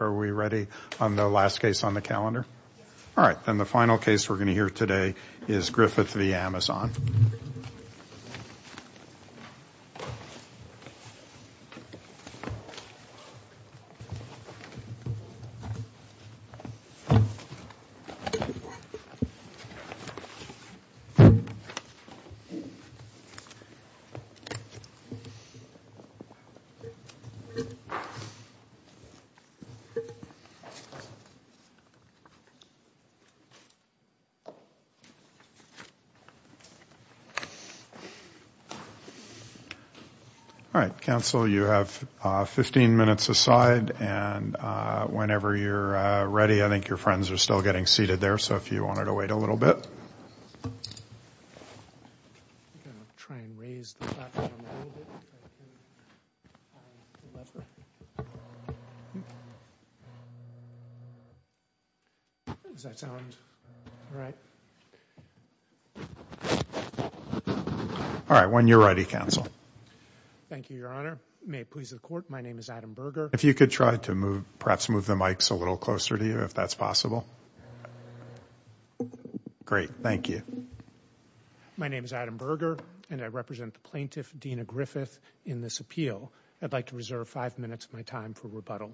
Are we ready on the last case on the calendar? All right. Council, you have 15 minutes aside, and whenever you're ready, I think your friends are still getting seated there, so if you wanted to wait a little bit. Does that sound all right? All right. When you're ready, Council. Thank you, Your Honor. May it please the Court, my name is Adam Berger. If you could try to move, perhaps move the mics a little closer to you, if that's possible. Great. Thank you. My name is Adam Berger, and I represent the plaintiff, Dena Griffith, in this appeal. I'd like to reserve five minutes of my time for rebuttal.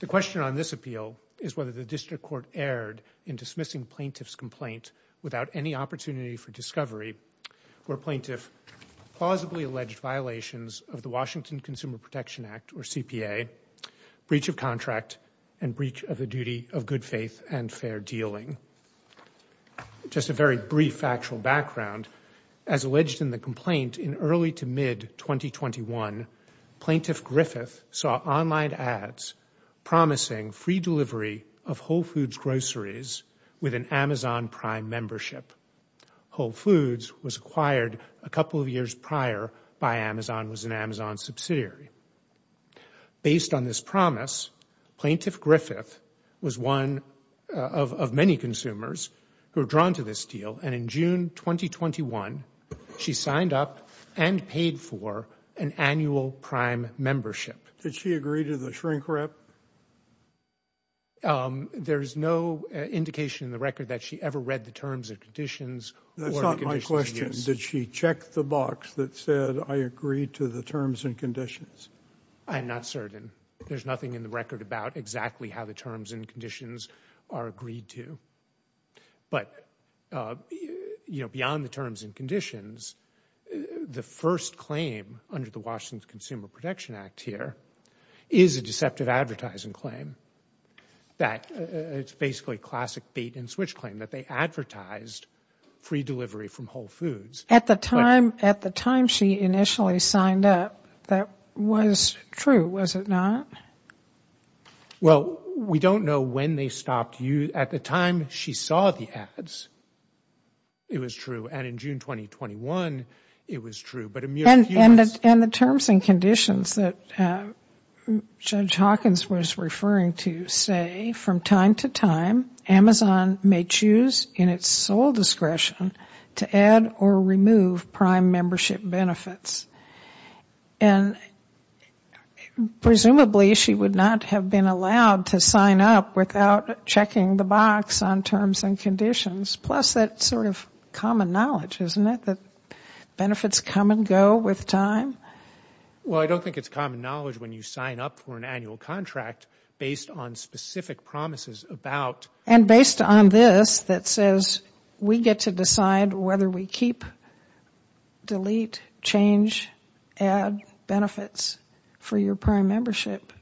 The question on this appeal is whether the District Court erred in dismissing plaintiff's complaint without any opportunity for discovery, where plaintiff plausibly alleged violations of the Washington Consumer Protection Act, or CPA, breach of contract, and breach of the duty of good faith and fair dealing. Just a very brief actual background, as alleged in the complaint, in early to mid-2021, plaintiff Griffith saw online ads promising free delivery of Whole Foods groceries with an Amazon Prime membership. Whole Foods was acquired a couple of years prior by Amazon, was an Amazon subsidiary. Based on this promise, plaintiff Griffith was one of many consumers who were drawn to this deal, and in June 2021, she signed up and paid for an annual Prime membership. Did she agree to the shrink rep? There's no indication in the record that she ever read the terms and conditions or the conditions of use. And did she check the box that said, I agree to the terms and conditions? I'm not certain. There's nothing in the record about exactly how the terms and conditions are agreed to. But, you know, beyond the terms and conditions, the first claim under the Washington Consumer Protection Act here is a deceptive advertising claim that it's basically a classic bait and switch claim, that they advertised free delivery from Whole Foods. At the time she initially signed up, that was true, was it not? Well, we don't know when they stopped. At the time she saw the ads, it was true. And in June 2021, it was true. And the terms and conditions that Judge Hawkins was referring to say, from time to time, that Amazon may choose, in its sole discretion, to add or remove Prime membership benefits. And presumably she would not have been allowed to sign up without checking the box on terms and conditions, plus that sort of common knowledge, isn't it, that benefits come and go with time? Well, I don't think it's common knowledge when you sign up for an annual contract based on specific promises about... And based on this that says, we get to decide whether we keep, delete, change, add benefits for your Prime membership.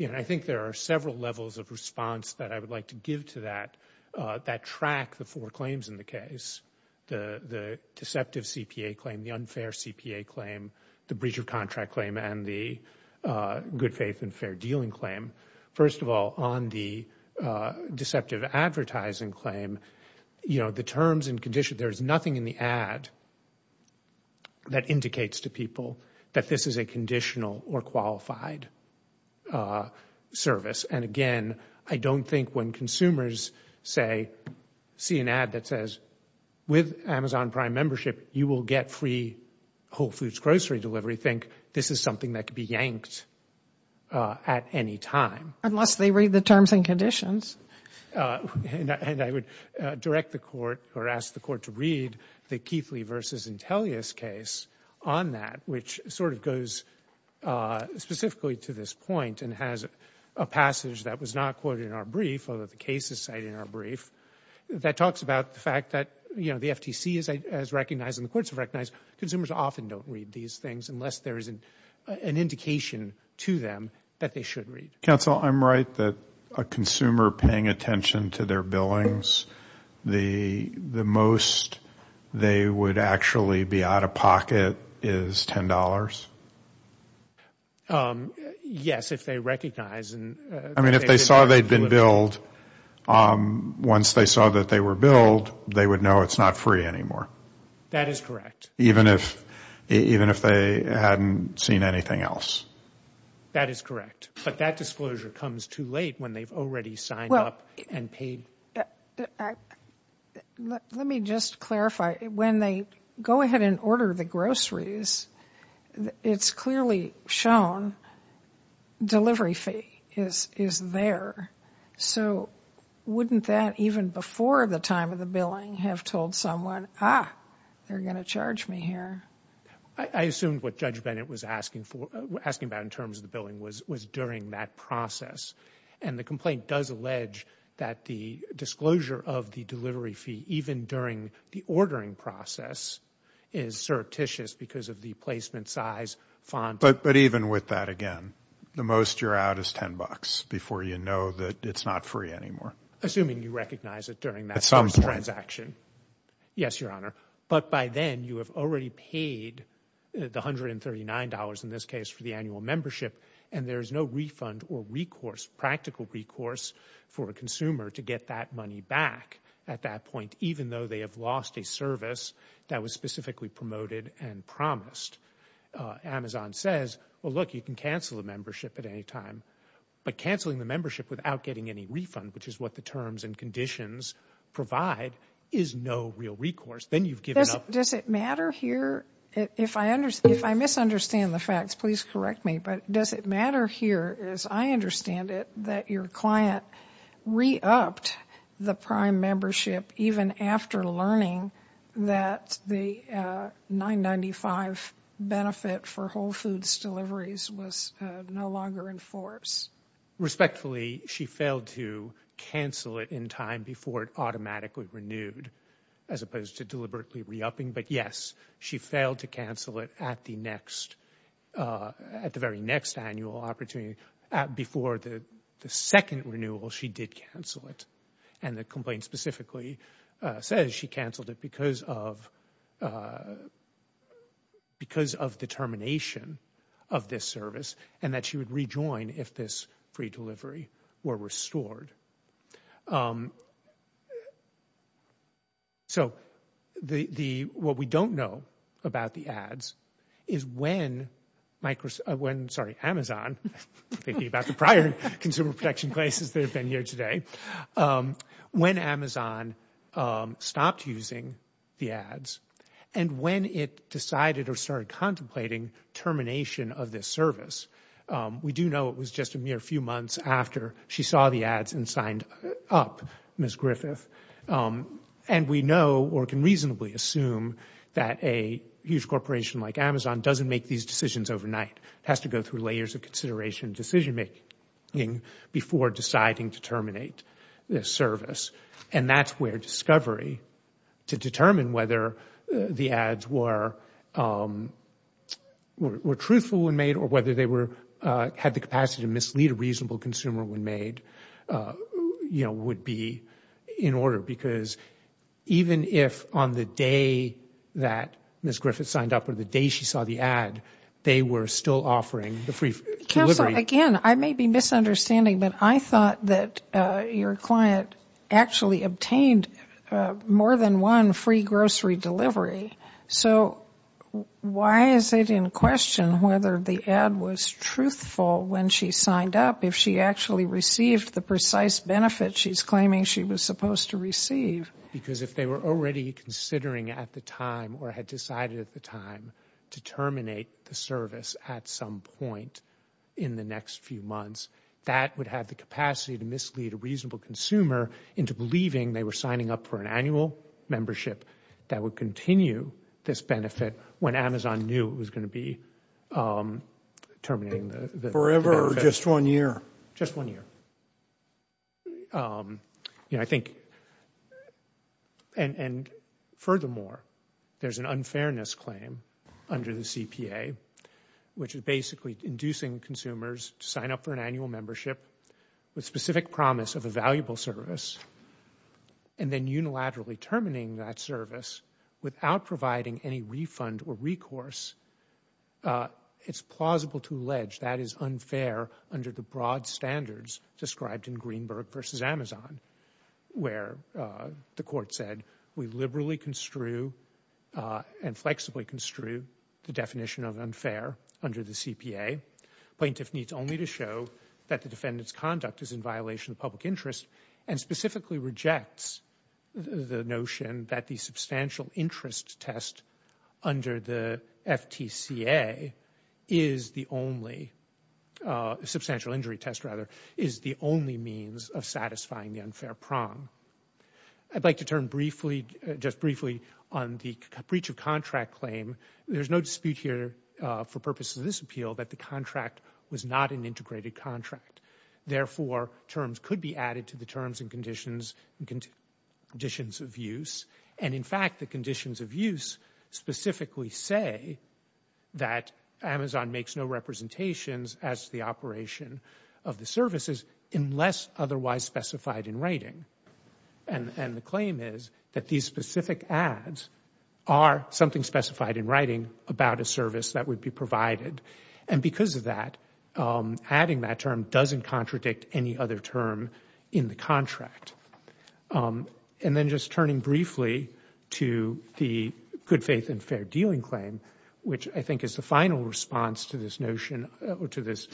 I think there are several levels of response that I would like to give to that, that track the four claims in the case. The deceptive CPA claim, the unfair CPA claim, the breach of contract claim, and the good faith and fair dealing claim. First of all, on the deceptive advertising claim, the terms and conditions, there is nothing in the ad that indicates to people that this is a conditional or qualified service. And again, I don't think when consumers see an ad that says, with Amazon Prime membership you will get free Whole Foods grocery delivery, think this is something that could be yanked at any time. Unless they read the terms and conditions. And I would direct the Court, or ask the Court to read the Keithley v. Intellius case on that, which sort of goes specifically to this point and has a passage that was not quoted in our brief, although the case is cited in our brief, that talks about the fact that the FTC has recognized, and the Courts have recognized, consumers often don't read these things unless there is an indication to them that they should read. Counsel, I'm right that a consumer paying attention to their billings, the most they would actually be out of pocket is $10? Yes, if they recognize. I mean, if they saw they'd been billed, once they saw that they were billed, they would know it's not free anymore. That is correct. Even if they hadn't seen anything else. That is correct. But that disclosure comes too late when they've already signed up and paid. Well, let me just clarify. When they go ahead and order the groceries, it's clearly shown delivery fee. It's there. Wouldn't that, even before the time of the billing, have told someone, ah, they're going to charge me here? I assume what Judge Bennett was asking about in terms of the billing was during that process. And the complaint does allege that the disclosure of the delivery fee, even during the ordering process, is surreptitious because of the placement size, font. But even with that, again, the most you're out is $10 before you know that it's not free anymore. Assuming you recognize it during that transaction. Yes, Your Honor. But by then, you have already paid the $139, in this case, for the annual membership, and there's no refund or recourse, practical recourse, for a consumer to get that money back at that point, even though they have lost a service that was specifically promoted and promised. Amazon says, well, look, you can cancel the membership at any time. But canceling the membership without getting any refund, which is what the terms and conditions provide, is no real recourse. Then you've given up... Does it matter here? If I misunderstand the facts, please correct me. But does it matter here, as I understand it, that your client re-upped the prime membership, even after learning that the $9.95 benefit for Whole Foods deliveries was no longer in force? Respectfully, she failed to cancel it in time before it automatically renewed, as opposed to deliberately re-upping. But yes, she failed to cancel it at the very next annual opportunity, before the second renewal, she did cancel it. And the complaint specifically says she canceled it because of the termination of this service, and that she would rejoin if this free delivery were restored. So what we don't know about the ads is when Amazon, thinking about the prior consumer protection places that have been here today, when Amazon stopped using the ads, and when it decided or started contemplating termination of this service. We do know it was just a mere few months after she saw the ads and signed up, Ms. Griffith. And we know, or can reasonably assume, that a huge corporation like Amazon doesn't make these decisions overnight. It has to go through layers of consideration and decision making before deciding to terminate this service. And that's where discovery, to determine whether the ads were truthful when made, or whether they had the capacity to mislead a reasonable consumer when made, would be in order. Because even if on the day that Ms. Griffith signed up, or the day she saw the ad, they were still offering the free delivery. Counsel, again, I may be misunderstanding, but I thought that your client actually obtained more than one free grocery delivery. So why is it in question whether the ad was truthful when she signed up, if she actually received the precise benefit she's claiming she was supposed to receive? Because if they were already considering at the time, or had decided at the time, to terminate this at some point in the next few months, that would have the capacity to mislead a reasonable consumer into believing they were signing up for an annual membership that would continue this benefit when Amazon knew it was going to be terminating the benefit. Forever, or just one year? Just one year. And furthermore, there's an unfairness claim under the CPA, which is basically inducing consumers to sign up for an annual membership with specific promise of a valuable service, and then unilaterally terminating that service without providing any refund or recourse. It's plausible to allege that is unfair under the broad standards described in Greenberg v. Amazon, where the court said, we liberally construe and flexibly construe the definition of unfair under the CPA. Plaintiff needs only to show that the defendant's conduct is in violation of public interest, and specifically rejects the notion that the substantial interest test under the FTCA is the only, substantial injury test rather, is the only means of satisfying the unfair prong. I'd like to turn briefly, just briefly, on the breach of contract claim. There's no dispute here, for purposes of this appeal, that the contract was not an integrated contract. Therefore, terms could be added to the terms and conditions of use, and in fact, the conditions of use specifically say that Amazon makes no representations as to the operation of the services, unless otherwise specified in writing. And the claim is that these specific ads are something specified in writing about a service that would be provided, and because of that, adding that term doesn't contradict any other term in the contract. And then just turning briefly to the good faith and fair dealing claim, which I think is the final response to this notion, to this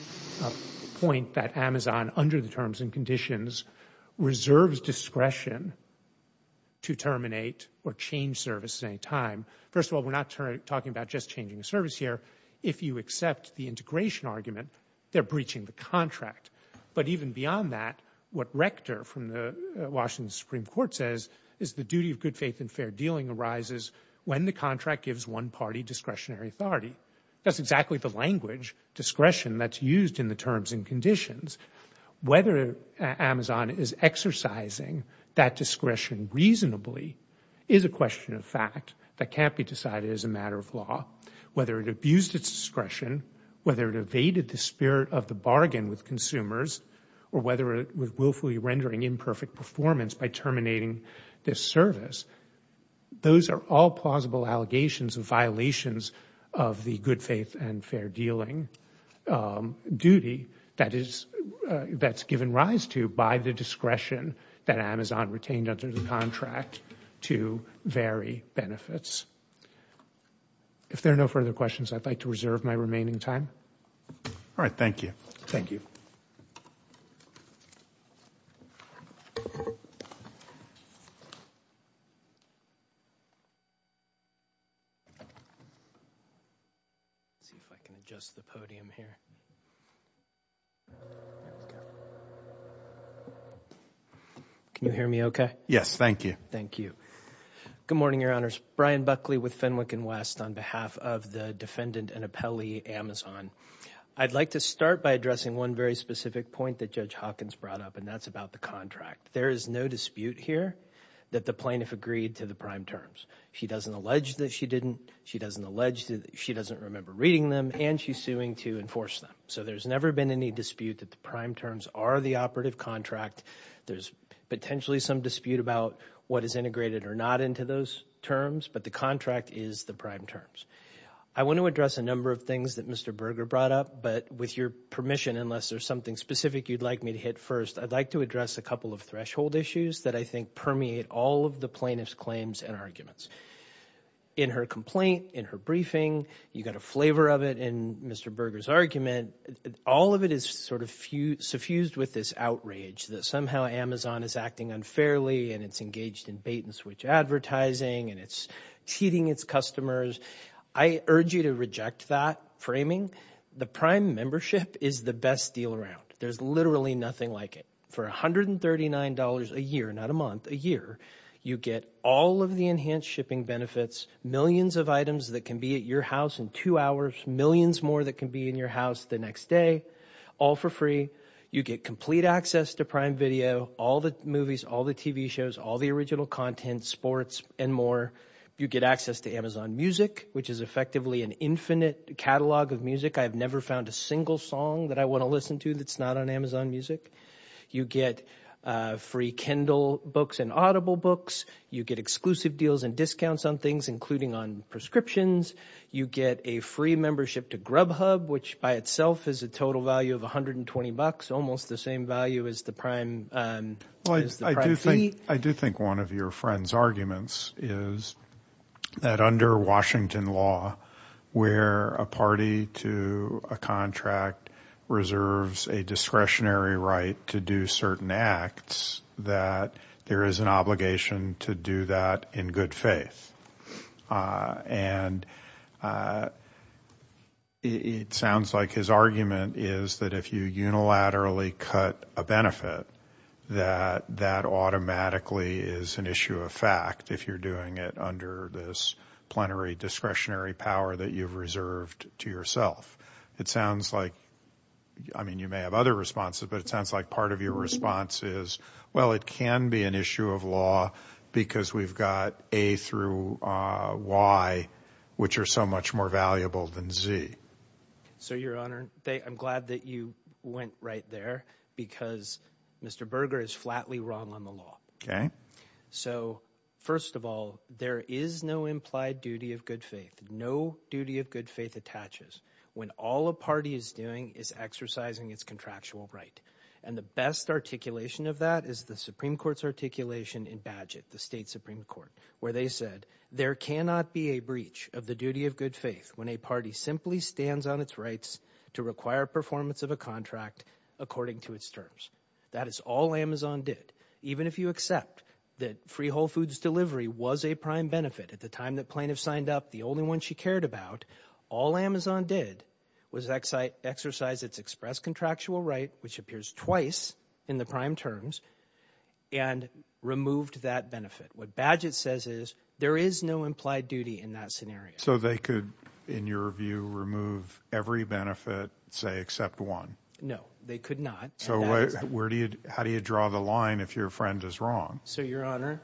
point that Amazon, under the terms and conditions, reserves discretion to terminate or change services at any time. First of all, we're not talking about just changing a service here. If you accept the integration argument, they're breaching the contract. But even beyond that, what Rector from the Washington Supreme Court says is the duty of good faith and fair dealing arises when the contract gives one party discretionary authority. That's exactly the language, discretion, that's used in the terms and conditions. Whether Amazon is exercising that discretion reasonably is a question of fact that can't be decided as a matter of law. Whether it abused its discretion, whether it evaded the spirit of the bargain with consumers, or whether it was willfully rendering imperfect performance by terminating this service, those are all plausible allegations of violations of the good faith and fair dealing duty that's given rise to by the discretion that Amazon retained under the contract to vary benefits. If there are no further questions, I'd like to reserve my remaining time. Brian Buckley with Fenwick & West on behalf of the defendant and appellee, Amazon. I'd like to start by addressing one very specific point that Judge Hawkins brought up, and that's about the contract. There is no dispute here that the plaintiff agreed to the prime terms. She doesn't allege that she didn't, she doesn't remember reading them, and she's suing to enforce them. So there's never been any dispute that the prime terms are the operative contract. There's potentially some dispute about what is integrated or not into those terms, but the contract is the prime terms. I want to address a number of things that Mr. Berger brought up, but with your permission, unless there's something specific you'd like me to hit first, I'd like to address a couple of threshold issues that I think permeate all of the plaintiff's claims and arguments. In her complaint, in her briefing, you got a flavor of it in Mr. Berger's argument. All of it is sort of suffused with this outrage that somehow Amazon is acting unfairly and it's engaged in bait-and-switch advertising and it's cheating its customers. I urge you to reject that framing. The prime membership is the best deal around. There's literally nothing like it. For $139 a year, not a month, a year, you get all of the enhanced shipping benefits, millions of items that can be at your house in two hours, millions more that can be in your house the next day, all for free. You get complete access to prime video, all the movies, all the TV shows, all the original content, sports, and more. You get access to Amazon Music, which is effectively an infinite catalog of music. I've never found a single song that I want to listen to that's not on Amazon Music. You get free Kindle books and Audible books. You get exclusive deals and discounts on things, including on prescriptions. You get a free membership to Grubhub, which by itself is a total value of $120, almost the same value as the prime fee. I do think one of your friend's arguments is that under Washington law, where a party to a contract reserves a discretionary right to do certain acts, that there is an obligation to do that in good faith. And it sounds like his argument is that if you unilaterally cut a benefit, that you have to do it in good faith. And I don't think that that automatically is an issue of fact if you're doing it under this plenary discretionary power that you've reserved to yourself. It sounds like, I mean, you may have other responses, but it sounds like part of your response is, well, it can be an issue of law because we've got A through Y, which are so much more valuable than Z. So, your Honor, I'm glad that you went right there because Mr. Berger is flatly wrong on the law. So, first of all, there is no implied duty of good faith. No duty of good faith attaches when all a party is doing is exercising its contractual right. And the best articulation of that is the Supreme Court's articulation in Bagehot, the state Supreme Court, where they said, there cannot be a breach of the duty of good faith when a party simply stands by its contractual right. When a party simply stands on its rights to require performance of a contract according to its terms. That is all Amazon did, even if you accept that Free Whole Foods delivery was a prime benefit at the time that plaintiff signed up, the only one she cared about. All Amazon did was exercise its express contractual right, which appears twice in the prime terms, and removed that benefit. What Bagehot says is, there is no implied duty in that scenario. So, they could remove every benefit, say, except one? No, they could not. So, how do you draw the line if your friend is wrong? So, your Honor,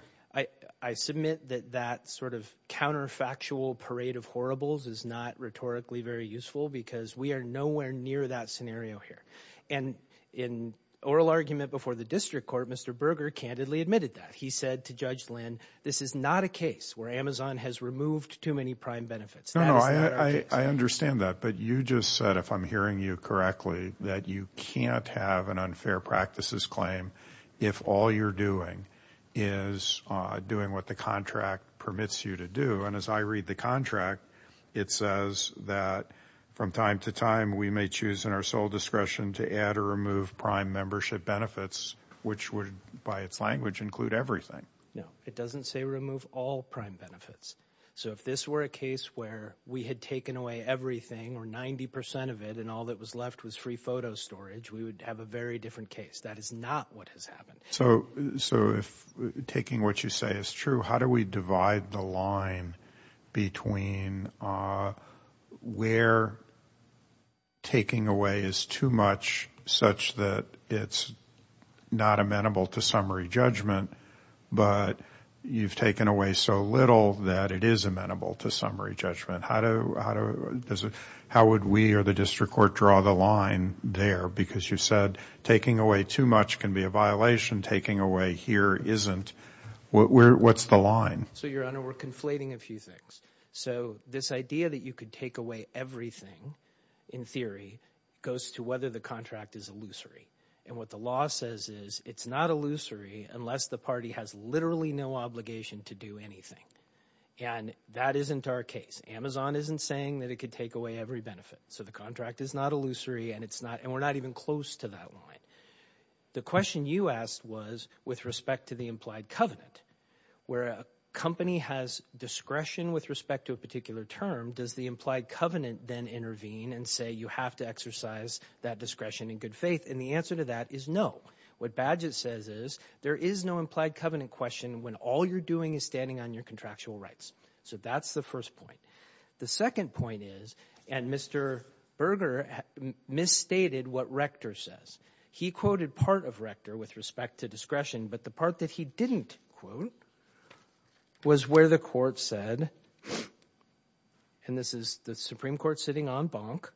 I submit that that sort of counterfactual parade of horribles is not rhetorically very useful because we are nowhere near that scenario here. And in oral argument before the district court, Mr. Berger candidly admitted that. He said to Judge Lynn, this is not a case where Amazon has removed too many prime benefits. No, no, I understand that, but you just said, if I'm hearing you correctly, that you can't have an unfair practices claim if all you're doing is doing what the contract permits you to do. And as I read the contract, it says that, from time to time, we may choose in our sole discretion to add or remove prime membership benefits, which would, by its language, include everything. No, it doesn't say remove all prime benefits. So, if this were a case where we had taken away everything, or 90% of it, and all that was left was free photo storage, we would have a very different case. That is not what has happened. So, if taking what you say is true, how do we divide the line between where taking away is too much, such that it's not amenable to summary judgment, and where taking away is too much, such that it's not amenable to summary judgment. But you've taken away so little that it is amenable to summary judgment. How would we or the district court draw the line there? Because you said taking away too much can be a violation, taking away here isn't. What's the line? So, Your Honor, we're conflating a few things. So, this idea that you could take away everything, in theory, goes to whether the contract is illusory. And what the law says is it's not illusory unless the party has literally no obligation to do anything. And that isn't our case. Amazon isn't saying that it could take away every benefit. So, the contract is not illusory, and we're not even close to that line. The question you asked was with respect to the implied covenant. Where a company has discretion with respect to a particular term, does the implied covenant then intervene and say you have to exercise that discretion in good faith? And the answer to that is no. What Bagehot says is there is no implied covenant question when all you're doing is standing on your contractual rights. So, that's the first point. The second point is, and Mr. Berger misstated what Rector says, he quoted part of Rector with respect to discretion, but the part that he didn't quote was where the court said, and this is the Supreme Court sitting on bonk,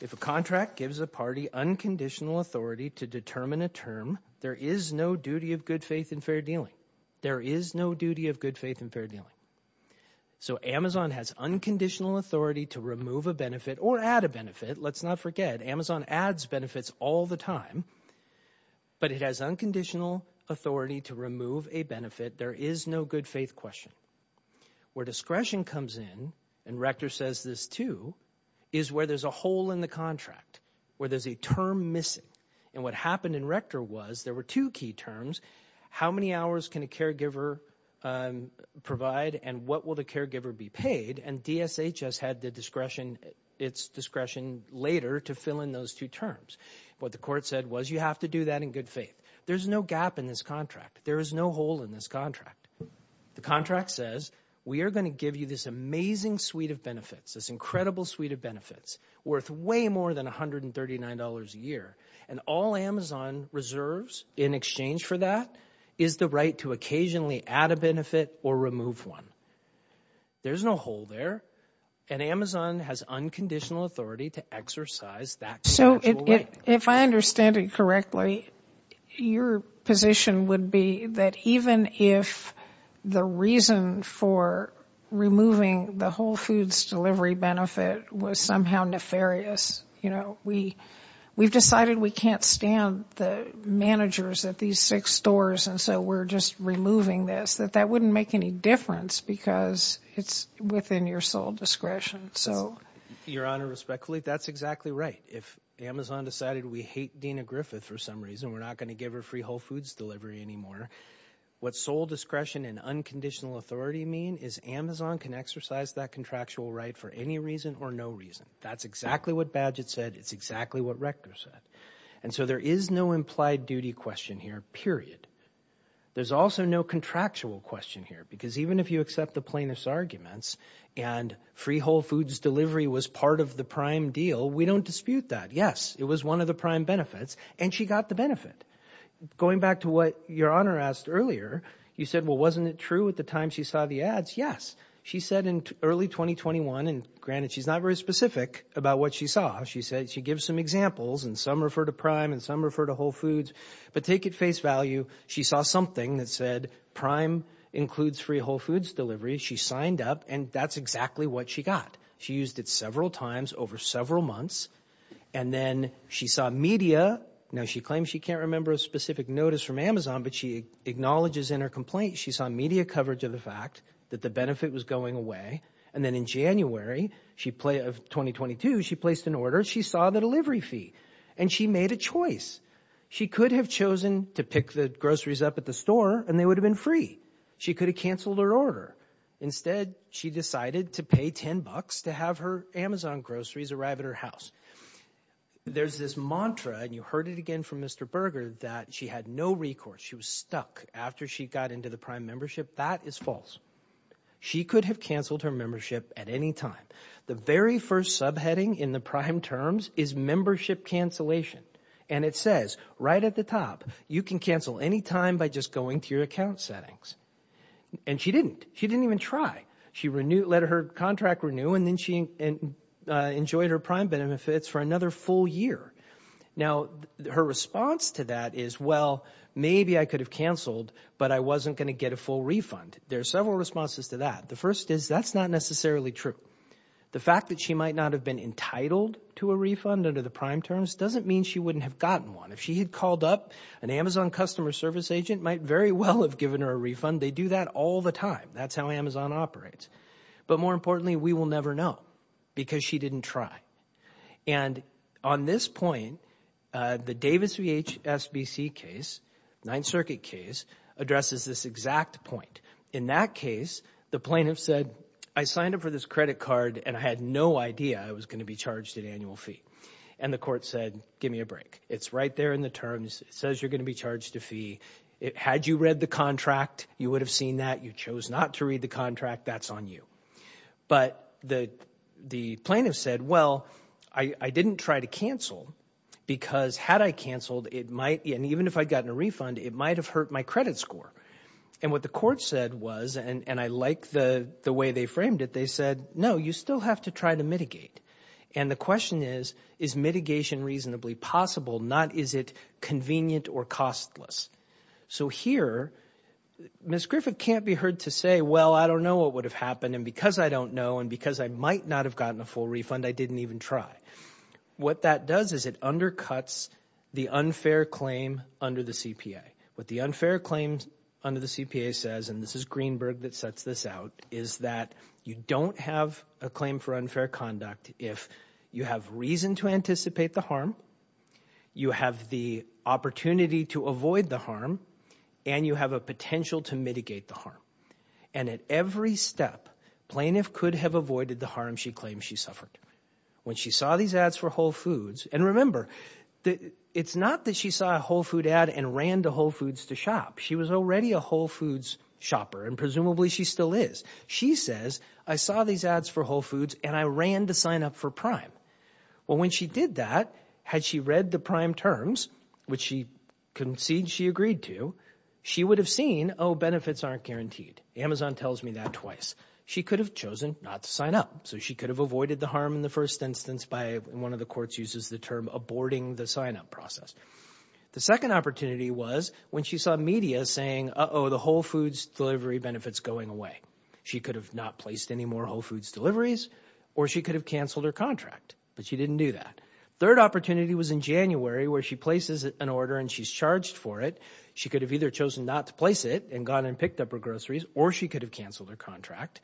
if a contract gives a party unconditional authority to determine a term, there is no duty of good faith in fair dealing. So, Amazon has unconditional authority to remove a benefit or add a benefit, let's not forget. Amazon adds benefits all the time, but it has unconditional authority to remove a benefit. There is no good faith question. Where discretion comes in, and Rector says this too, is where there's a hole in the contract, where there's a term missing, and what happened in Rector was there were two key terms, how many hours can a caregiver provide and what will the caregiver be paid, and DSHS had the discretion, its discretion later to fill in those two terms. What the court said was you have to do that in good faith. There's no gap in this contract. There is no hole in this contract. The contract says we are going to give you this amazing suite of benefits, this incredible suite of benefits worth way more than $139 a year, and all Amazon reserves in exchange for that is the right to occasionally add a benefit or remove one. There's no hole there, and Amazon has unconditional authority to exercise that. So, if I understand it correctly, your position would be that even if the reason for removing the Whole Foods delivery benefit was somehow nefarious, we've decided we can't stand the managers at these six stores, and so we're just removing this, that that wouldn't make any difference because it's within your sole discretion. Your Honor, respectfully, that's exactly right. If Amazon decided we hate Dina Griffith for some reason, we're not going to give her free Whole Foods delivery anymore. What sole discretion and unconditional authority mean is Amazon can exercise that contractual right for any reason or no reason. That's exactly what Badgett said, it's exactly what Rector said. And so there is no implied duty question here, period. There's also no contractual question here, because even if you accept the plaintiff's arguments and free Whole Foods delivery was part of the prime deal, we don't dispute that. Yes, it was one of the prime benefits, and she got the benefit. Going back to what your Honor asked earlier, you said, well, wasn't it true at the time she saw the ads? Yes, she said in early 2021, and granted, she's not very specific about what she saw. She said she gives some examples, and some refer to prime and some refer to Whole Foods. But take it face value, she saw something that said prime includes free Whole Foods delivery. She signed up, and that's exactly what she got. She used it several times over several months, and then she saw media. Now, she claims she can't remember a specific notice from Amazon, but she acknowledges in her complaint she saw media coverage of the fact that the benefit was going away. And then in January of 2022, she placed an order, she saw the delivery fee, and she made a choice. She could have chosen to pick the groceries up at the store, and they would have been free. She could have canceled her order. Instead, she decided to pay $10 to have her Amazon groceries arrive at her house. There's this mantra, and you heard it again from Mr. Berger, that she had no recourse. She was stuck after she got into the prime membership. That is false. She could have canceled her membership at any time. The very first subheading in the prime terms is membership cancellation, and it says right at the top, you can cancel any time by just going to your account settings. And she didn't. She didn't even try. She let her contract renew, and then she enjoyed her prime benefits for another full year. Now, her response to that is, well, maybe I could have canceled, but I wasn't going to get a full refund. There are several responses to that. The first is that's not necessarily true. The fact that she might not have been entitled to a refund under the prime terms doesn't mean she wouldn't have gotten one. If she had called up, an Amazon customer service agent might very well have given her a refund. They do that all the time. That's how Amazon operates. But more importantly, we will never know, because she didn't try. And on this point, the Davis v. HSBC case, Ninth Circuit case, addresses this exact point. In that case, the plaintiff said, I signed up for this credit card, and I had no idea I was going to be charged an annual fee. And the court said, give me a break. It's right there in the terms. It says you're going to be charged a fee. Had you read the contract, you would have seen that. You chose not to read the contract. That's on you. But the plaintiff said, well, I didn't try to cancel, because had I canceled, and even if I had gotten a refund, it might have hurt my credit score. And what the court said was, and I like the way they framed it, they said, no, you still have to try to mitigate. And the question is, is mitigation reasonably possible, not is it convenient or costless? So here, Ms. Griffith can't be heard to say, well, I don't know what would have happened, and because I don't know, and because I might not have gotten a full refund, I didn't even try. What that does is it undercuts the unfair claim under the CPA. What the unfair claim under the CPA says, and this is Greenberg that sets this out, is that you don't have a claim for unfair conduct if you have reason to anticipate the harm, you have the opportunity to avoid the harm, and you have a potential to mitigate the harm. And at every step, plaintiff could have avoided the harm she claims she suffered. When she saw these ads for Whole Foods, and remember, it's not that she saw a Whole Foods ad and ran to Whole Foods to shop. She was already a Whole Foods shopper, and presumably she still is. She says, I saw these ads for Whole Foods, and I ran to sign up for Prime. Well, when she did that, had she read the Prime terms, which she concedes she agreed to, she would have seen, oh, benefits aren't guaranteed. Amazon tells me that twice. She could have chosen not to sign up, so she could have avoided the harm in the first instance by, and one of the courts uses the term, aborting the sign-up process. The second opportunity was when she saw media saying, uh-oh, the Whole Foods delivery benefit's going away. She could have not placed any more Whole Foods deliveries, or she could have canceled her contract, but she didn't do that. Third opportunity was in January where she places an order and she's charged for it. She could have either chosen not to place it and gone and picked up her groceries, or she could have canceled her contract.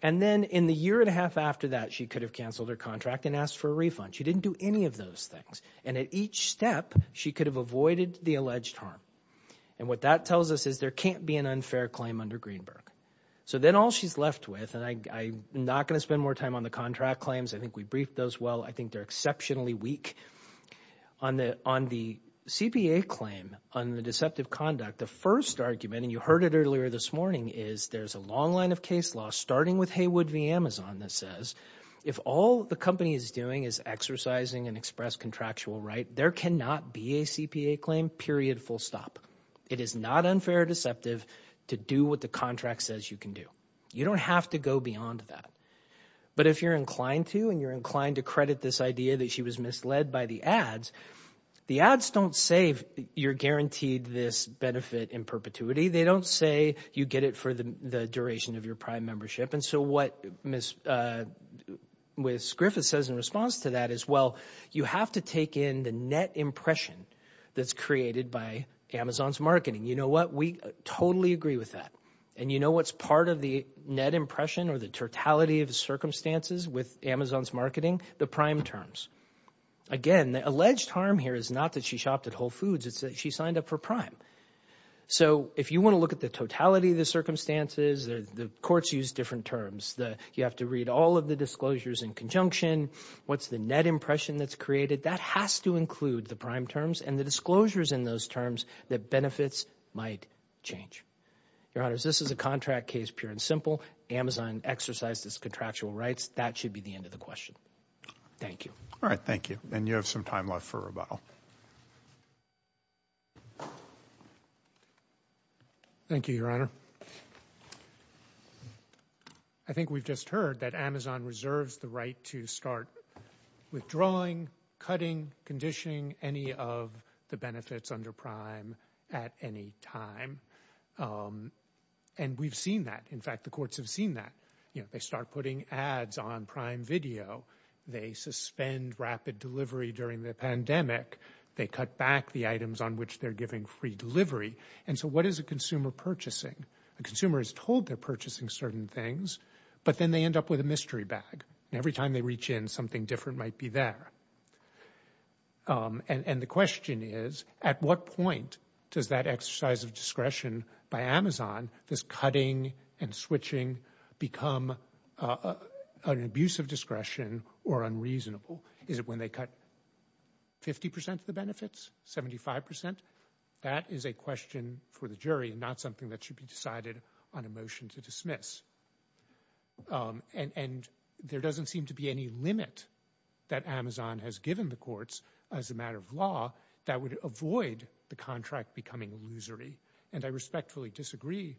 And then in the year and a half after that, she could have canceled her contract and asked for a refund. She didn't do any of those things, and at each step, she could have avoided the alleged harm. And what that tells us is there can't be an unfair claim under Greenberg. So then all she's left with, and I'm not going to spend more time on the contract claims. I think we briefed those well. I think they're exceptionally weak. On the CPA claim, on the deceptive conduct, the first argument, and you heard it earlier this morning, is there's a long line of case law starting with Haywood v. Amazon that says, if all the company is doing is exercising an express contractual right, there cannot be a CPA claim, period, full stop. It is not unfair or deceptive to do what the contract says you can do. You don't have to go beyond that. But if you're inclined to, and you're inclined to credit this idea that she was misled by the ads, the ads don't say you're guaranteed this benefit in perpetuity. They don't say you get it for the duration of your prime membership. And so what Ms. Griffith says in response to that is, well, you have to take in the net impression that's created by Amazon. Amazon's marketing. You know what? We totally agree with that. And you know what's part of the net impression or the totality of the circumstances with Amazon's marketing? The prime terms. Again, the alleged harm here is not that she shopped at Whole Foods. It's that she signed up for prime. So if you want to look at the totality of the circumstances, the courts use different terms. You have to read all of the disclosures in conjunction. What's the net impression that's created? That has to include the prime terms and the disclosures in those terms that benefits might change. Your Honor, this is a contract case, pure and simple. Amazon exercised its contractual rights. That should be the end of the question. Thank you. All right. Thank you. And you have some time left for rebuttal. Thank you, Your Honor. I think we've just heard that Amazon reserves the right to start withdrawing, cutting, conditioning any of the benefits under prime at any time. And we've seen that. In fact, the courts have seen that they start putting ads on prime video. They suspend rapid delivery during the pandemic. They cut back the items on which they're giving free delivery. And so what is a consumer purchasing? A consumer is told they're purchasing certain things, but then they end up with a mystery bag. Every time they reach in, something different might be there. And the question is, at what point does that exercise of discretion by Amazon, this cutting and switching, become an abuse of discretion or unreasonable? Is it when they cut 50 percent of the benefits, 75 percent? That is a question for the jury and not something that should be decided on a motion to dismiss. And there doesn't seem to be any limit that Amazon has given the courts as a matter of law that would avoid the contract becoming illusory. And I respectfully disagree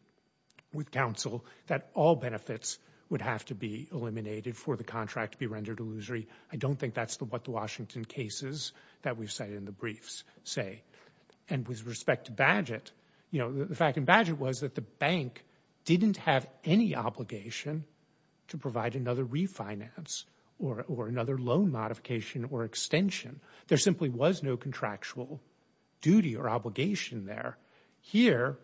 with counsel that all benefits would have to be eliminated for the contract to be rendered illusory. I don't think that's what the Washington cases that we've cited in the briefs say. And with respect to Badgett, you know, the fact in Badgett was that the bank didn't have any obligation to provide another refinance or another loan modification or extension. There simply was no contractual duty or obligation there. Here,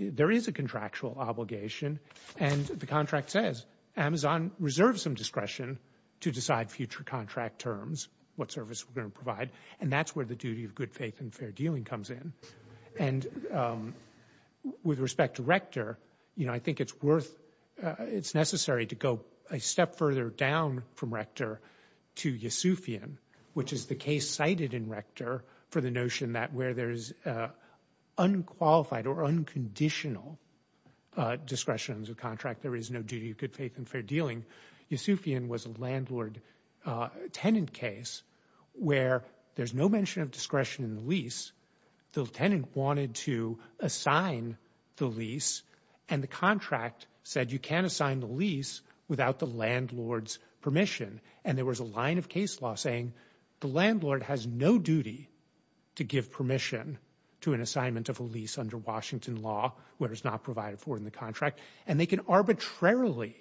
there is a contractual obligation. And the contract says Amazon reserves some discretion to decide future contract terms, what service we're going to provide. And that's where the duty of good faith and fair dealing comes in. And with respect to Rector, you know, I think it's worth, it's necessary to go a step further down from Rector to Yesufian, which is the case cited in Rector for the notion that where there is unqualified or unconditional discretion to contract, there is no duty of good faith and fair dealing. Yesufian was a landlord tenant case where there's no mention of discretion in the lease. The tenant wanted to assign the lease and the contract said you can't assign the lease without the landlord's permission. And there was a line of case law saying the landlord has no duty to give permission to an assignment of a lease under Washington law where it's not provided for in the contract. And they can arbitrarily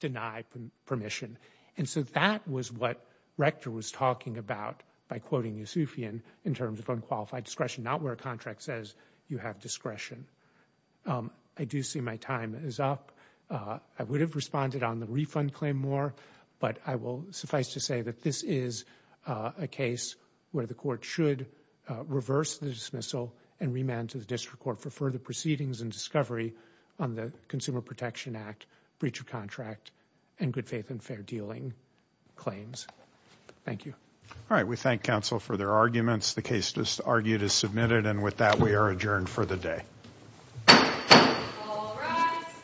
deny permission. And so that was what Rector was talking about by quoting Yesufian in terms of unqualified discretion, not where a contract says you have discretion. I do see my time is up. I would have responded on the refund claim more, but I will suffice to say that this is a case where the court should reverse the dismissal and remand to the district court for further proceedings and discovery on the Consumer Protection Act breach of contract and good faith and fair dealing claims. Thank you. All right. We thank counsel for their arguments. The case just argued is submitted. And with that, we are adjourned for the day. All rise.